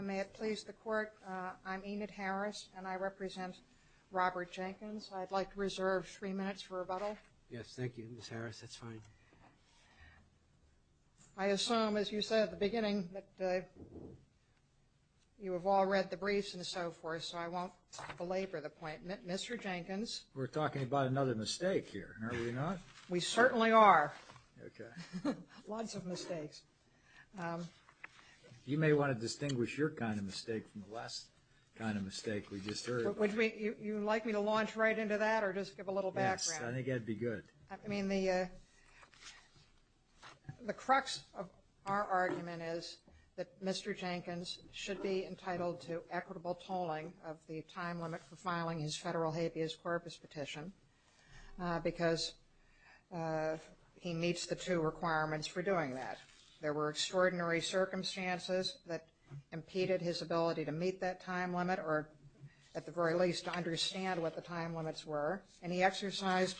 May it please the Court, I'm Enid Harris and I represent Robert Jenkins. I'd like to reserve three minutes for rebuttal. Yes, thank you, Ms. Harris, that's fine. I assume, as you said at the beginning, that you have all read the briefs and so forth, so I won't belabor the point. Mr. Jenkins. We're talking about another mistake here, are we not? We certainly are. Okay. Lots of mistakes. You may want to distinguish your kind of mistake from the last kind of mistake we just heard. Would you like me to launch right into that or just give a little background? Yes, I think that'd be good. I mean the the crux of our argument is that Mr. Jenkins should be entitled to equitable tolling of the time limit for filing his case because he meets the two requirements for doing that. There were extraordinary circumstances that impeded his ability to meet that time limit or at the very least to understand what the time limits were, and he exercised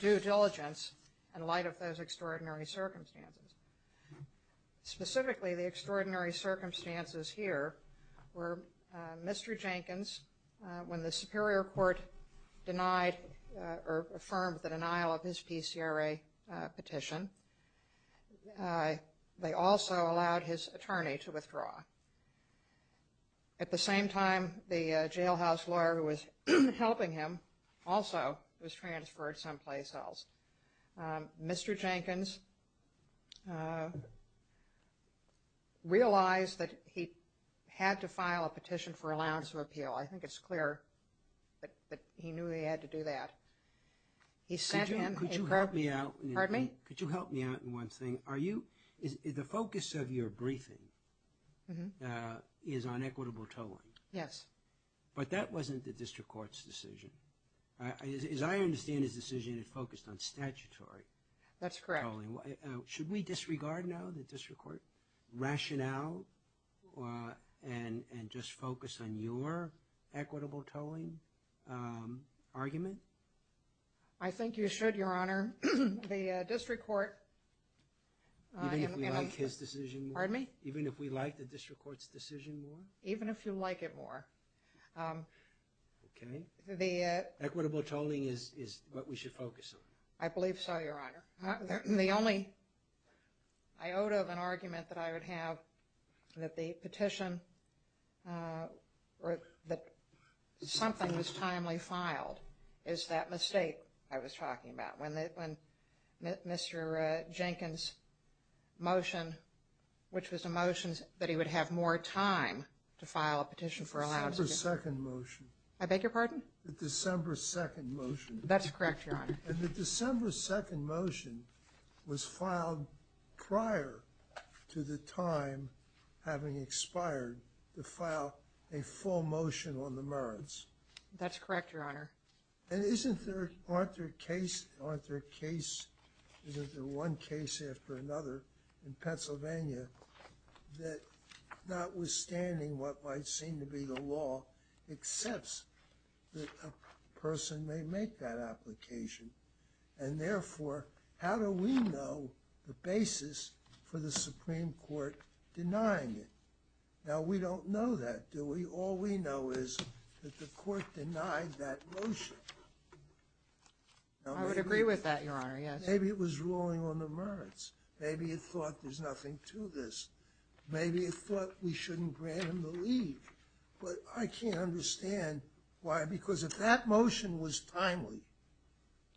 due diligence in light of those extraordinary circumstances. Specifically, the extraordinary circumstances here were Mr. Jenkins, when the Superior Court denied or affirmed the denial of his PCRA petition, they also allowed his attorney to withdraw. At the same time, the jailhouse lawyer who was helping him also was transferred someplace else. Mr. Jenkins realized that he had to file a he knew he had to do that. Could you help me out in one thing? The focus of your briefing is on equitable tolling. Yes. But that wasn't the District Court's decision. As I understand his decision, it focused on statutory tolling. That's correct. Should we disregard now the District Court rationale and just focus on your equitable tolling argument? I think you should, Your Honor. The District Court... Even if we like his decision more? Pardon me? Even if we like the District Court's decision more? Even if you like it more. Okay. Equitable tolling is what we should focus on. I believe so, Your Honor. The only... I owed of an have that the petition or that something was timely filed is that mistake I was talking about. When Mr. Jenkins' motion, which was a motion that he would have more time to file a petition for allowance. The December 2nd motion. I beg your pardon? The December 2nd motion. That's correct, Your Honor. And the December 2nd motion was filed prior to the time having expired to file a full motion on the merits. That's correct, Your Honor. And isn't there... aren't there case... aren't there case... isn't there one case after another in Pennsylvania that, not withstanding what might seem to be the law, accepts that a person may make that implication? And therefore, how do we know the basis for the Supreme Court denying it? Now, we don't know that, do we? All we know is that the court denied that motion. I would agree with that, Your Honor. Yes. Maybe it was ruling on the merits. Maybe it thought there's nothing to this. Maybe it thought we shouldn't grant him leave. But I can't understand why, because if that motion was timely...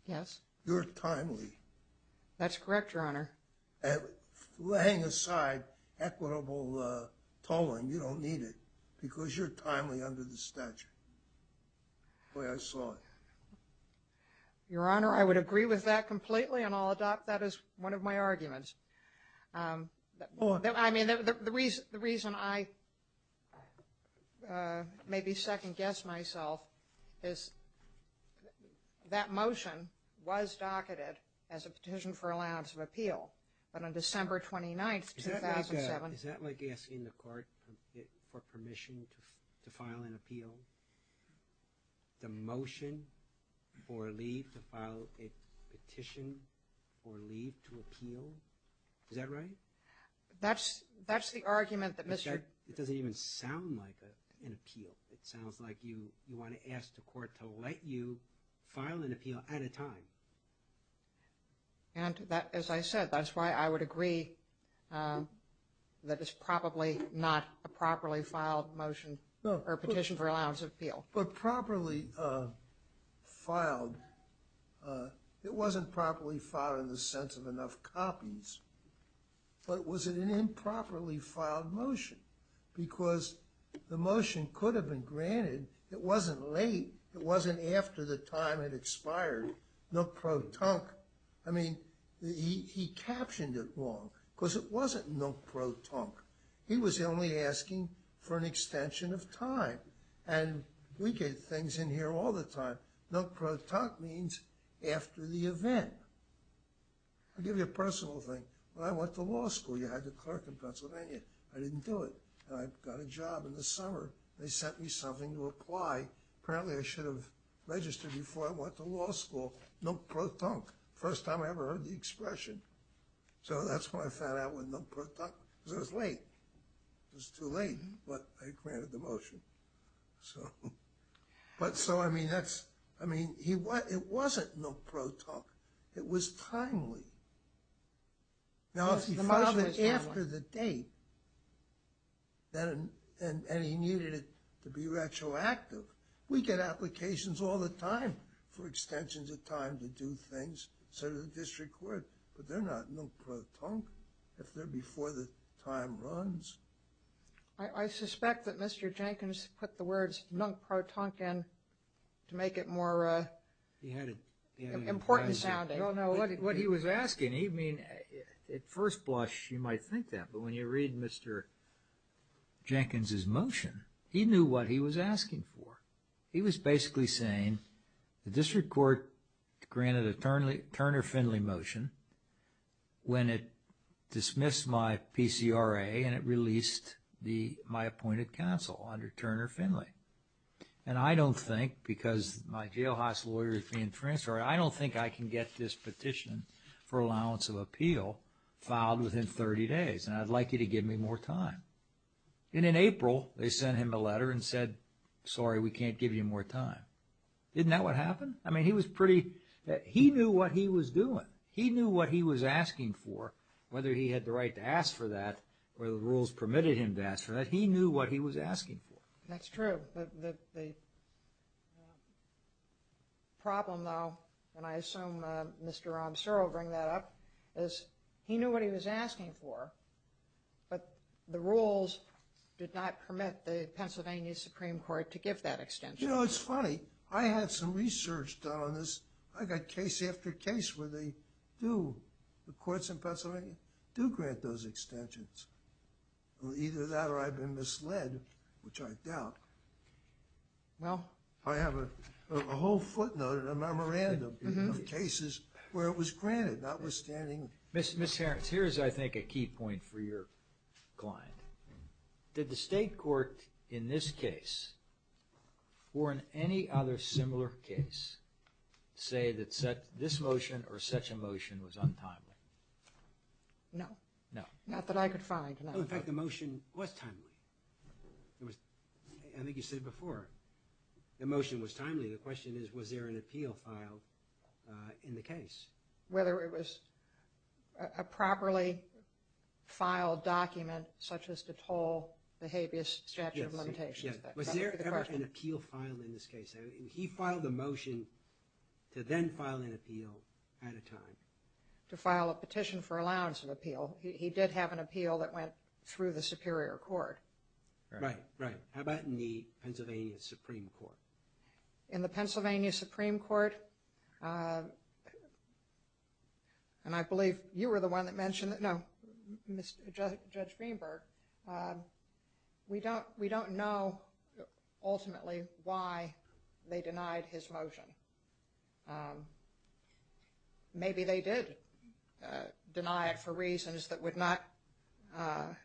Yes. You're timely. That's correct, Your Honor. And laying aside equitable tolling, you don't need it, because you're timely under the statute. The way I saw it. Your Honor, I would agree with that completely and I'll adopt that as one of my The reason I maybe second-guess myself is that motion was docketed as a petition for allowance of appeal, but on December 29th, 2007... Is that like asking the court for permission to file an appeal? The motion for leave to file a petition for leave to appeal? Is that's the argument that Mr... It doesn't even sound like an appeal. It sounds like you want to ask the court to let you file an appeal at a time. And that, as I said, that's why I would agree that it's probably not a properly filed motion or petition for allowance of appeal. But properly filed, it wasn't properly filed in the sense of enough copies. But was it an improperly filed motion? Because the motion could have been granted. It wasn't late. It wasn't after the time had expired. Nook Pro Tonk. I mean, he captioned it wrong, because it wasn't Nook Pro Tonk. He was only asking for an extension of time. And we get things in here all the time. Nook Pro Tonk means after the event. I'll give you a personal thing. When I went to law school, you had to clerk in Pennsylvania. I didn't do it. I got a job in the summer. They sent me something to apply. Apparently, I should have registered before I went to law school. Nook Pro Tonk. First time I ever heard the expression. So that's when I found out what Nook Pro Tonk... It was late. It was too late, but they granted the motion. So... But so, I mean, that's... I mean, it wasn't Nook Pro Tonk. It was timely. Now, if he filed it after the date, and he needed it to be retroactive, we get applications all the time for extensions of time to do things, so does the district court. But they're not Nook Pro Tonk if they're before the time runs. I suspect that Mr. Jenkins put the words Nook Pro Tonk in to make it more important sounding. I don't know what he was asking. I mean, at first blush, you might think that, but when you read Mr. Jenkins's motion, he knew what he was asking for. He was basically saying the district court granted a Turner Finley motion when it dismissed my PCRA and it released my appointed counsel under Turner Finley. And I don't think, because my jailhouse lawyer is being transferred, I don't think I can get this petition for allowance of appeal filed within 30 days, and I'd like you to give me more time. And in April, they sent him a letter and said, sorry, we can't give you more time. Isn't that what happened? I mean, he was pretty, he knew what he was doing. He knew what he was asking for. Whether he had the right to ask for that or the rules permitted him to ask for that, he knew what he was asking for. That's true. The problem, though, and I assume Mr. Rob Searle will bring that up, is he knew what he was asking for, but the rules did not permit the Pennsylvania Supreme Court to give that extension. You know, it's funny. I had some research done on this. I got case after case where they do, the courts in Pennsylvania, do grant those extensions. Either that or I've been misled, which I doubt. Well, I have a whole footnote in a memorandum of cases where it was granted, notwithstanding. Ms. Harris, here's, I think, a key point for your client. Did the state court in this similar case say that this motion or such a motion was untimely? No. No. Not that I could find. In fact, the motion was timely. I think you said it before. The motion was timely. The question is, was there an appeal filed in the case? Whether it was a properly filed document, such as to toll the habeas statute of limitations. Was there ever an appeal filed in this case? He filed a motion to then file an appeal at a time. To file a petition for allowance of appeal. He did have an appeal that went through the Superior Court. Right. Right. How about in the Pennsylvania Supreme Court? In the Pennsylvania Supreme Court, and I believe you were the one that mentioned it, no, Judge Greenberg, we don't know, ultimately, why they denied his motion. Maybe they did deny it for reasons that would not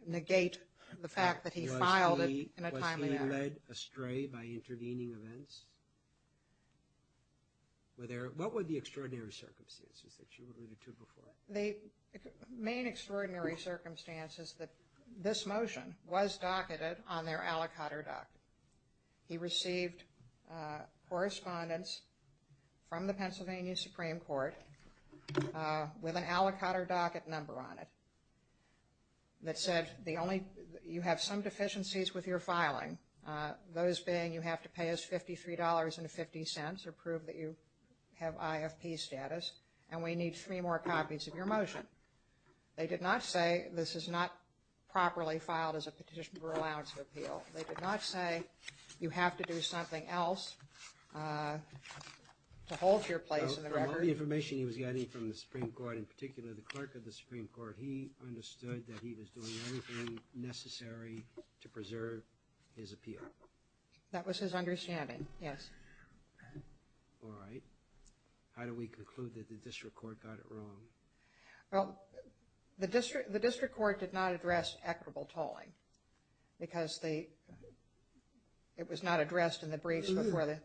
negate the fact that he filed it in a timely manner. Was he led astray by The main extraordinary circumstance is that this motion was docketed on their aliquotter doc. He received correspondence from the Pennsylvania Supreme Court with an aliquotter docket number on it that said the only, you have some deficiencies with your filing. Those being you have to pay us $53.50 or prove that you have IFP status and we need three more copies of your motion. They did not say this is not properly filed as a petition for allowance of appeal. They did not say you have to do something else to hold your place in the record. The information he was getting from the Supreme Court, in particular the clerk of the Supreme Court, he understood that he was doing everything necessary to All right. How do we conclude that the district court got it wrong? Well, the district the district court did not address equitable tolling because they it was not addressed in the briefs before.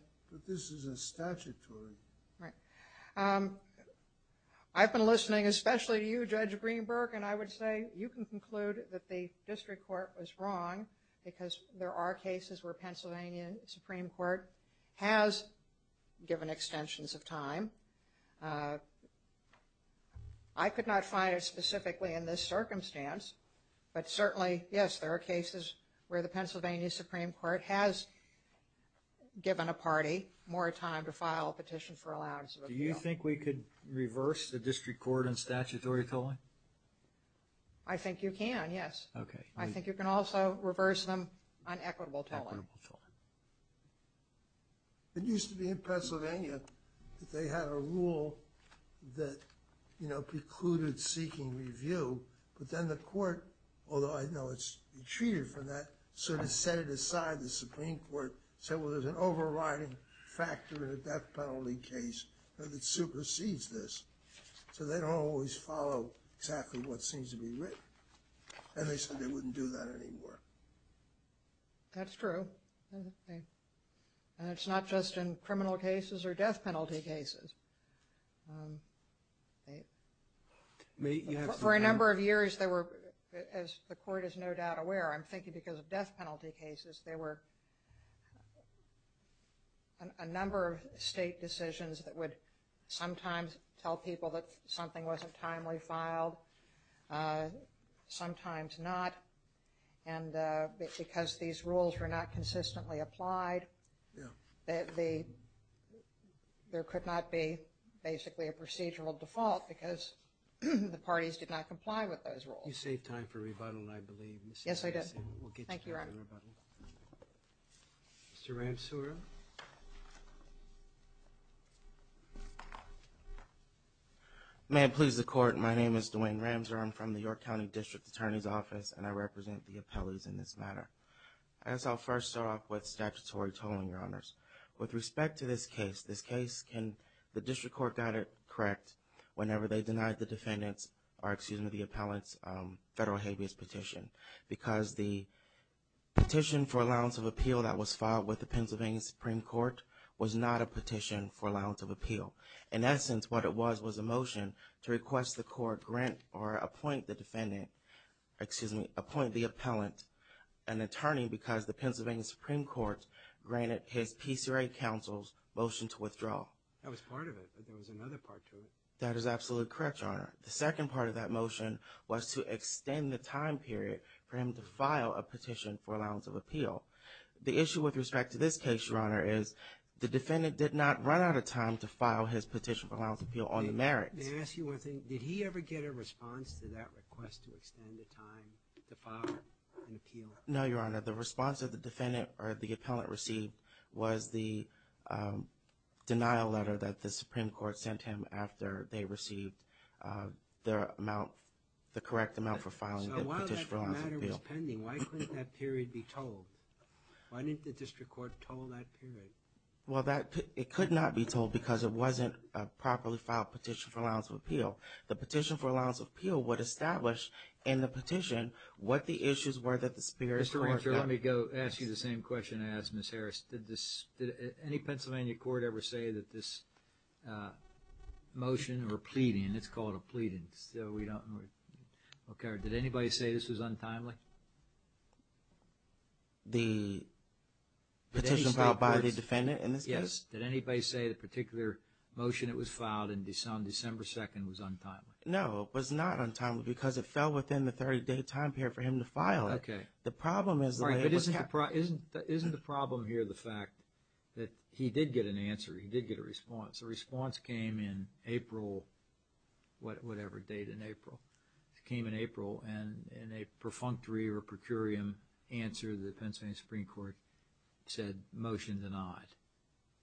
This is a statutory. Right. I've been listening especially to you, Judge Greenberg, and I would say you can conclude that the district court was wrong because there are cases where given extensions of time. I could not find it specifically in this circumstance but certainly, yes, there are cases where the Pennsylvania Supreme Court has given a party more time to file a petition for allowance. Do you think we could reverse the district court and statutory tolling? I think you can, yes. Okay. I think you can also reverse them on equitable tolling. It used to be in Pennsylvania that they had a rule that, you know, precluded seeking review but then the court, although I know it's treated from that, sort of set it aside. The Supreme Court said, well, there's an overriding factor in a death penalty case that supersedes this so they don't always follow exactly what seems to be written and they said they wouldn't do that anymore. That's true and it's not just in criminal cases or death penalty cases. For a number of years, as the court is no doubt aware, I'm thinking because of death penalty cases, there were a number of state decisions that would sometimes tell people that something wasn't timely filed, sometimes not, and because these rules were not consistently applied, there could not be basically a procedural default because the parties did not comply with those rules. You saved time for rebuttal, I believe. Yes, I did. Thank you, Ron. Mr. Ramsoura. May it please the court, my name is Dwayne Ramsoura. I'm from the York County District Attorney's Office and I represent the appellees in this matter. I guess I'll first start off with statutory tolling, your honors. With respect to this case, this case, the district court got it correct whenever they denied the defendant's, or excuse me, the appellant's federal habeas petition because the petition for allowance of appeal that was filed with the Pennsylvania Supreme Court was not a petition for allowance of appeal. In essence, what it was was a motion to request the court grant or appoint the defendant, excuse me, appoint the appellant an attorney because the Pennsylvania Supreme Court granted his PCRA counsel's motion to withdraw. That was part of it, but there was another part to it. That is absolutely correct, your honor. The second part of that motion was to extend the time period for him to file a petition for allowance of appeal. The issue with respect to this case, your honor, is the defendant did not run out of time to file his petition for allowance of appeal on the merits. May I ask you one thing? Did he ever get a response to that request to extend the time to file an appeal? No, your honor. The response of the defendant, or the appellant received, was the denial letter that the Supreme Court sent him after they received their amount, the correct amount for filing the petition for allowance of appeal. So while that matter was pending, why couldn't that period be told? Why didn't the district court told that period? Well, that, it could not be told because it wasn't a properly filed petition for allowance of appeal. The petition for allowance of appeal would establish in the petition what the issues were that the Supreme Court found. Mr. Archer, let me go ask you the same question I asked Ms. Harris. Did this, did any Pennsylvania court ever say that this motion or pleading, it's called a pleading, so we don't, okay, did anybody say this was untimely? The petition filed by the defendant in this case? Did anybody say the particular motion that was filed on December 2nd was untimely? No, it was not untimely because it fell within the 30-day time period for him to file it. Okay. The problem is... Isn't the problem here the fact that he did get an answer, he did get a response. The response came in April, whatever date in April, it came in April and in a perfunctory or per curiam answer, the Pennsylvania Supreme Court said motion denied.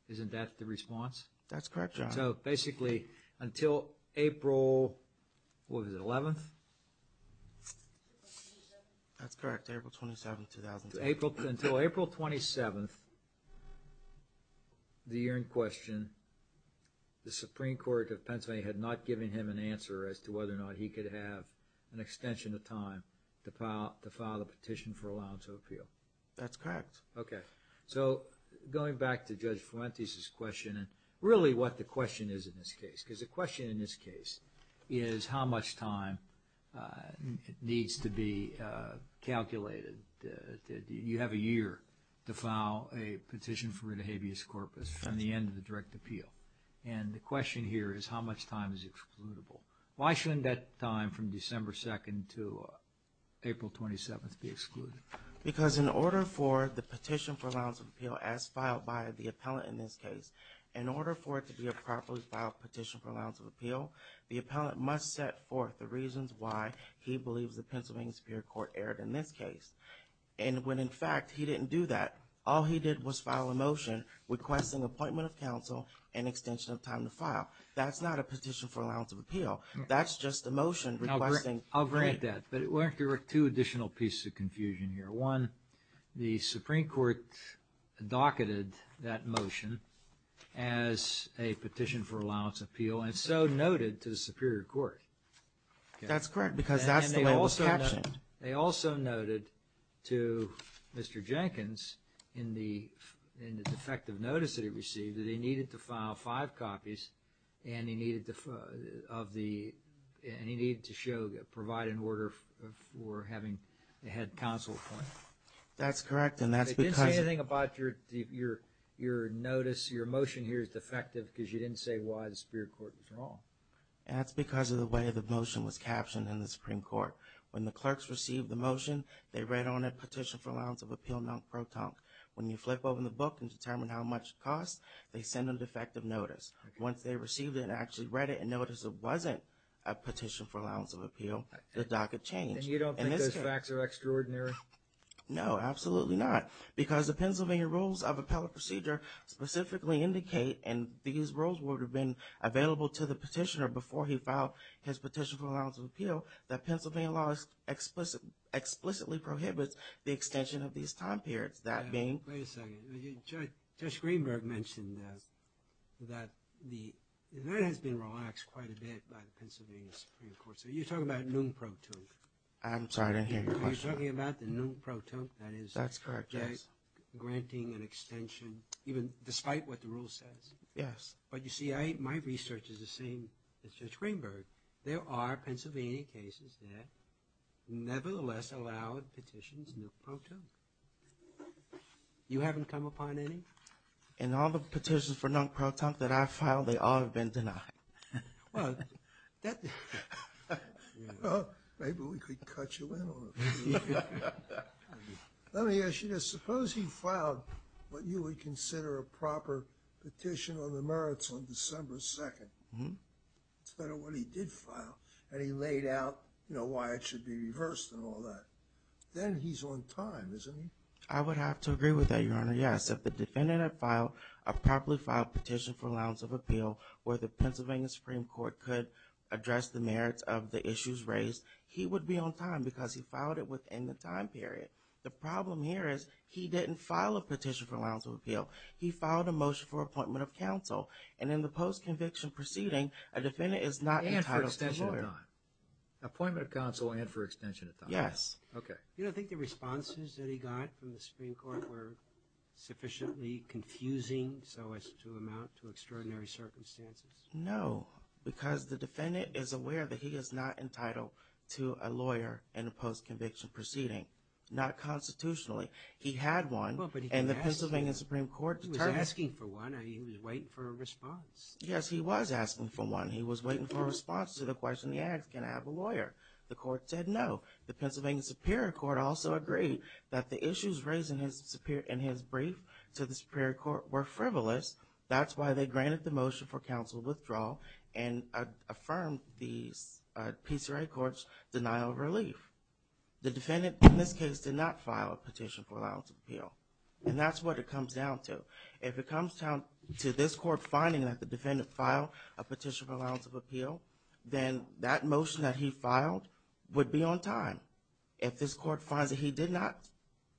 Isn't that the response? That's correct, Your Honor. So basically until April, what was it, 11th? That's correct, April 27th, 2010. Until April 27th, the year in question, the Supreme Court of Pennsylvania had not given him an answer as to whether or not he could have an extension of time to file a petition. That's correct. Okay. So going back to Judge Fuentes' question and really what the question is in this case, because the question in this case is how much time needs to be calculated. You have a year to file a petition for rid of habeas corpus from the end of the direct appeal and the question here is how much time is excludable. Why shouldn't that time from December 2nd to April 27th be for the petition for allowance of appeal as filed by the appellant in this case? In order for it to be a properly filed petition for allowance of appeal, the appellant must set forth the reasons why he believes the Pennsylvania Supreme Court erred in this case and when in fact he didn't do that, all he did was file a motion requesting appointment of counsel and extension of time to file. That's not a petition for allowance of appeal. That's just a motion requesting I'll grant that, but there are two additional pieces of confusion here. One, the Supreme Court docketed that motion as a petition for allowance of appeal and so noted to the Superior Court. That's correct because that's the way it was captioned. They also noted to Mr. Jenkins in the defective notice that he received that he needed to file provide an order for having the head counsel appointed. That's correct and that's because... They didn't say anything about your notice, your motion here is defective because you didn't say why the Superior Court was wrong. That's because of the way the motion was captioned in the Supreme Court. When the clerks received the motion, they read on a petition for allowance of appeal non-proton. When you flip open the book and determine how much it costs, they send a defective notice. Once they received it actually read it and noticed it wasn't a petition for allowance of appeal, the docket changed. And you don't think those facts are extraordinary? No, absolutely not because the Pennsylvania Rules of Appellate Procedure specifically indicate, and these rules would have been available to the petitioner before he filed his petition for allowance of appeal, that Pennsylvania law explicitly prohibits the extension of these time periods. That being... Wait a second, Judge Greenberg you mentioned that the... That has been relaxed quite a bit by the Pennsylvania Supreme Court. So you're talking about non-proton. I'm sorry, I didn't hear your question. You're talking about the non-proton, that is... That's correct, yes. ...granting an extension even despite what the rule says. Yes. But you see, my research is the same as Judge Greenberg. There are Pennsylvania cases that nevertheless allowed petitions non-proton. You haven't come upon any? In all the petitions for non-proton that I filed, they all have been denied. Well, that... Maybe we could cut you in on it. Let me ask you this. Suppose he filed what you would consider a proper petition on the merits on December 2nd. Mm-hmm. Instead of what he did file, and he laid out, you know, why it should be reversed and all that. Then he's on time, isn't he? I would have to agree with that, Your Honor, yes. If the defendant had filed a properly filed petition for allowance of appeal where the Pennsylvania Supreme Court could address the merits of the issues raised, he would be on time because he filed it within the time period. The problem here is he didn't file a petition for allowance of appeal. He filed a motion for appointment of counsel, and in the post-conviction proceeding, a defendant is not entitled to the lawyer. And for extension of time. Appointment of counsel and for extension of time. Yes. Okay. You know, I think the responses that he got from the Supreme Court were sufficiently confusing so as to amount to extraordinary circumstances. No. Because the defendant is aware that he is not entitled to a lawyer in a post-conviction proceeding. Not constitutionally. He had one, and the Pennsylvania Supreme Court... He was asking for one, and he was waiting for a response. Yes, he was asking for one. He was waiting for a response to the question he asked, can I have a lawyer? The court said no. The Pennsylvania Supreme Court also agreed that the issues raised in his brief to the Supreme Court were frivolous. That's why they granted the motion for counsel withdrawal and affirmed the PCRA court's denial of relief. The defendant, in this case, did not file a petition for allowance of appeal. And that's what it comes down to. If it comes down to this court finding that the defendant filed a petition for allowance of appeal, then that motion that he filed would be on time. If this court did not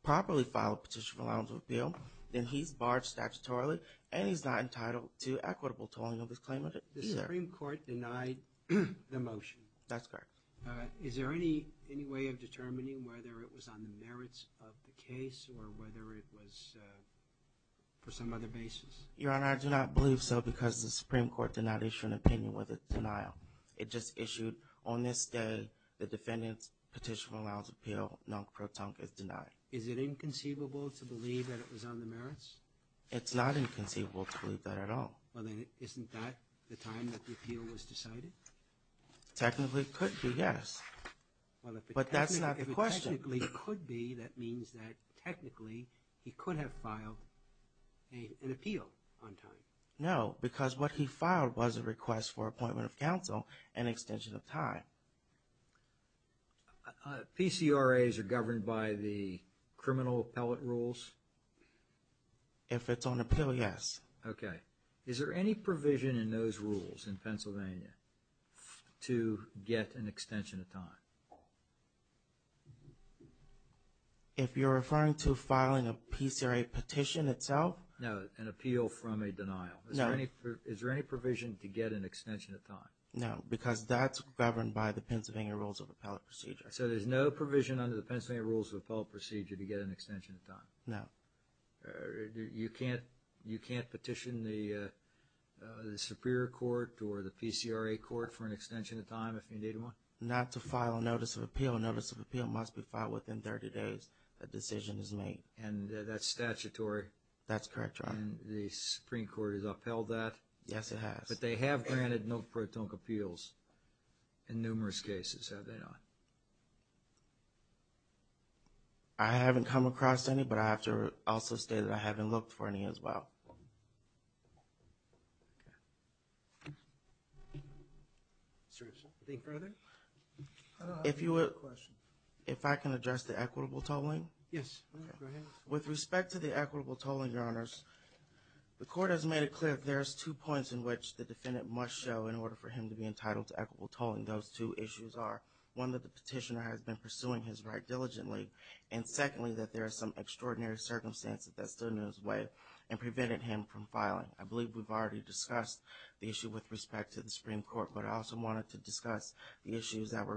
properly file a petition for allowance of appeal, then he's barred statutorily and he's not entitled to equitable tolling of his claimant. The Supreme Court denied the motion. That's correct. Is there any any way of determining whether it was on the merits of the case or whether it was for some other basis? Your Honor, I do not believe so because the Supreme Court did not issue an opinion with the denial. It just issued on this day the defendant's petition for allowance of appeal, non pro tonque, is denied. Is it inconceivable to believe that it was on the merits? It's not inconceivable to believe that at all. Well then, isn't that the time that the appeal was decided? Technically, it could be, yes. But that's not the question. If it technically could be, that means that technically he could have filed an appeal on time. No, because what he filed was a request for appointment of counsel and extension of time. PCRAs are governed by the criminal appellate rules? If it's on appeal, yes. Okay. Is there any provision in those rules in Pennsylvania to get an extension of time? If you're referring to filing a PCRA petition itself? No, an appeal from a denial. Is there any provision to get an extension of time? No, because that's governed by the Pennsylvania Rules of Appellate Procedure. So there's no provision under the Pennsylvania Rules of Appellate Procedure to get an extension of time? No. You can't petition the Superior Court or the PCRA court for an extension of time if you need one? Not to file a notice of appeal. A notice of appeal must be filed within 30 days a decision is made. And that's statutory? That's correct, Your Honor. And the Supreme Court has upheld that? Yes, it has. But they have granted no pro tonque appeals in numerous cases, have they not? I haven't come across any, but I have to also state that I haven't looked for any as well. If I can address the equitable tolling, Your Honors, the court has made it clear there's two points in which the defendant must show in order for him to be entitled to equitable tolling. Those two issues are, one, that the petitioner has been pursuing his right diligently, and secondly, that there are some extraordinary circumstances that stood in his way and prevented him from filing. I believe we've already discussed the issue with respect to the Supreme Court, but I also wanted to discuss the issues that were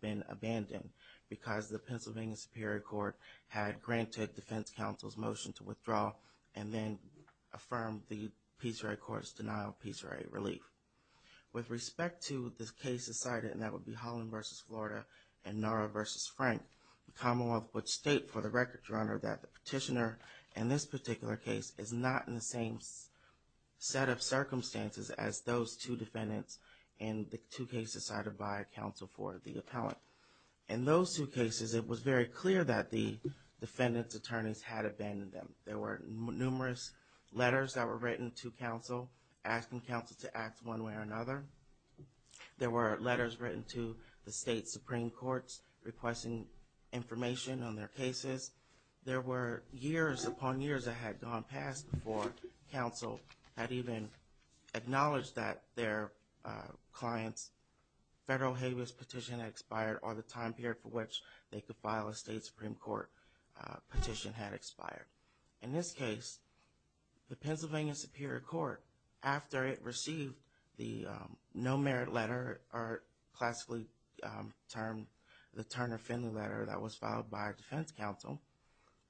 been abandoned because the Pennsylvania Superior Court had granted Defense Counsel's motion to withdraw and then affirmed the PCRA Court's denial of PCRA relief. With respect to the cases cited, and that would be Holland v. Florida and Nara v. Frank, the Commonwealth would state for the record, Your Honor, that the petitioner in this particular case is not in the same set of In those two cases, it was very clear that the defendant's attorneys had abandoned them. There were numerous letters that were written to counsel asking counsel to act one way or another. There were letters written to the state Supreme Court's requesting information on their cases. There were years upon years that had gone past before counsel had even acknowledged that their client's federal habeas petition had expired or the time period for which they could file a state Supreme Court petition had expired. In this case, the Pennsylvania Superior Court, after it received the no merit letter, or classically termed the Turner-Finley letter that was filed by Defense Counsel,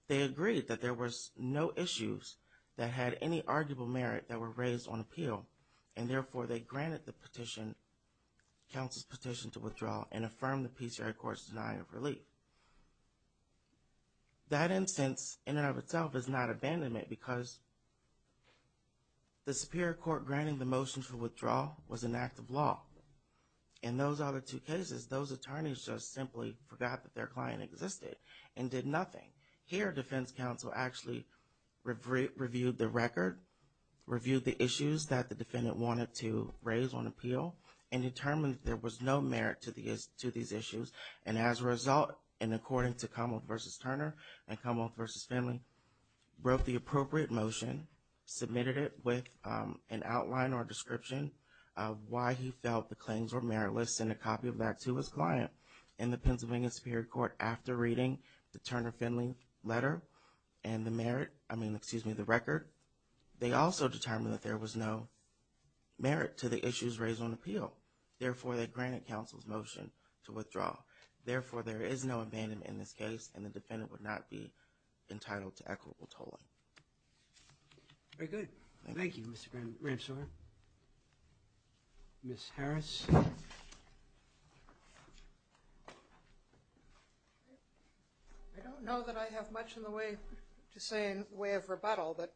they agreed that there was no issues that had any arguable merit that were raised on appeal, and and affirmed the PCRA court's denial of relief. That instance, in and of itself, is not abandonment because the Superior Court granting the motion for withdrawal was an act of law. In those other two cases, those attorneys just simply forgot that their client existed and did nothing. Here, Defense Counsel actually reviewed the record, reviewed the issues that the defendant wanted to raise on appeal, and determined there was no merit to these issues. And as a result, and according to Commonwealth v. Turner and Commonwealth v. Finley, wrote the appropriate motion, submitted it with an outline or description of why he felt the claims were meritless, and a copy of that to his client in the Pennsylvania Superior Court after reading the Turner-Finley letter, and the merit, I mean, excuse me, the record, they also determined that there was no merit to the issues raised on appeal. Therefore, they granted counsel's motion to withdraw. Therefore, there is no abandonment in this case, and the defendant would not be entitled to equitable I don't have much in the way to say in the way of rebuttal, but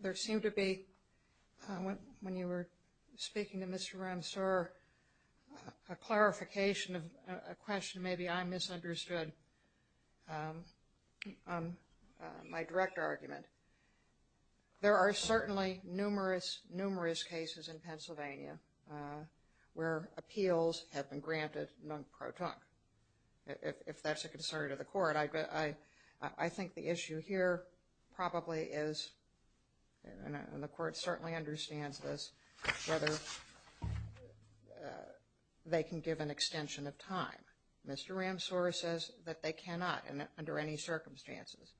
there seemed to be, when you were speaking to Mr. Ramsour, a clarification of a question maybe I misunderstood on my direct argument. There are certainly numerous, numerous cases in Pennsylvania where appeals have been I think the issue here probably is, and the Court certainly understands this, whether they can give an extension of time. Mr. Ramsour says that they cannot, under any circumstances.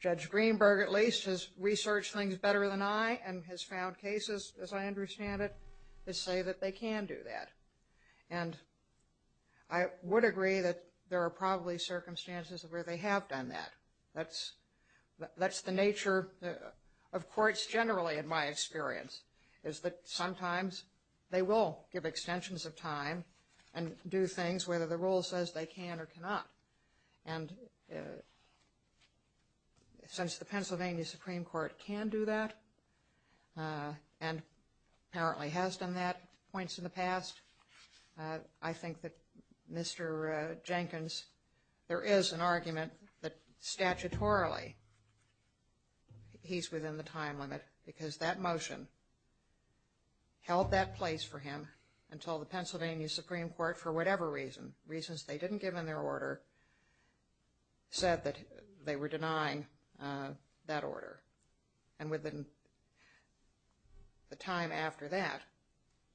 Judge Greenberg, at least, has researched things better than I, and has found cases, as I understand it, that say that they can do that. And I would agree that there are probably circumstances where they have done that. That's the nature of courts generally, in my experience, is that sometimes they will give extensions of time and do things, whether the rule says they can or cannot. And since the Pennsylvania Supreme Court can do that, and apparently has done that at points in the past, I think that Mr. Jenkins, there is an argument that statutorily he's within the time limit, because that motion held that place for him until the Pennsylvania Supreme Court, for whatever reason, reasons they didn't give in their order, said that they were denying that order. And within the time after that,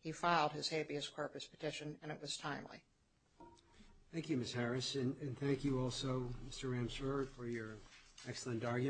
he filed his habeas corpus petition, and it was timely. Thank you, Ms. Harris. And thank you also, Mr. Ramsour, for your excellent argument.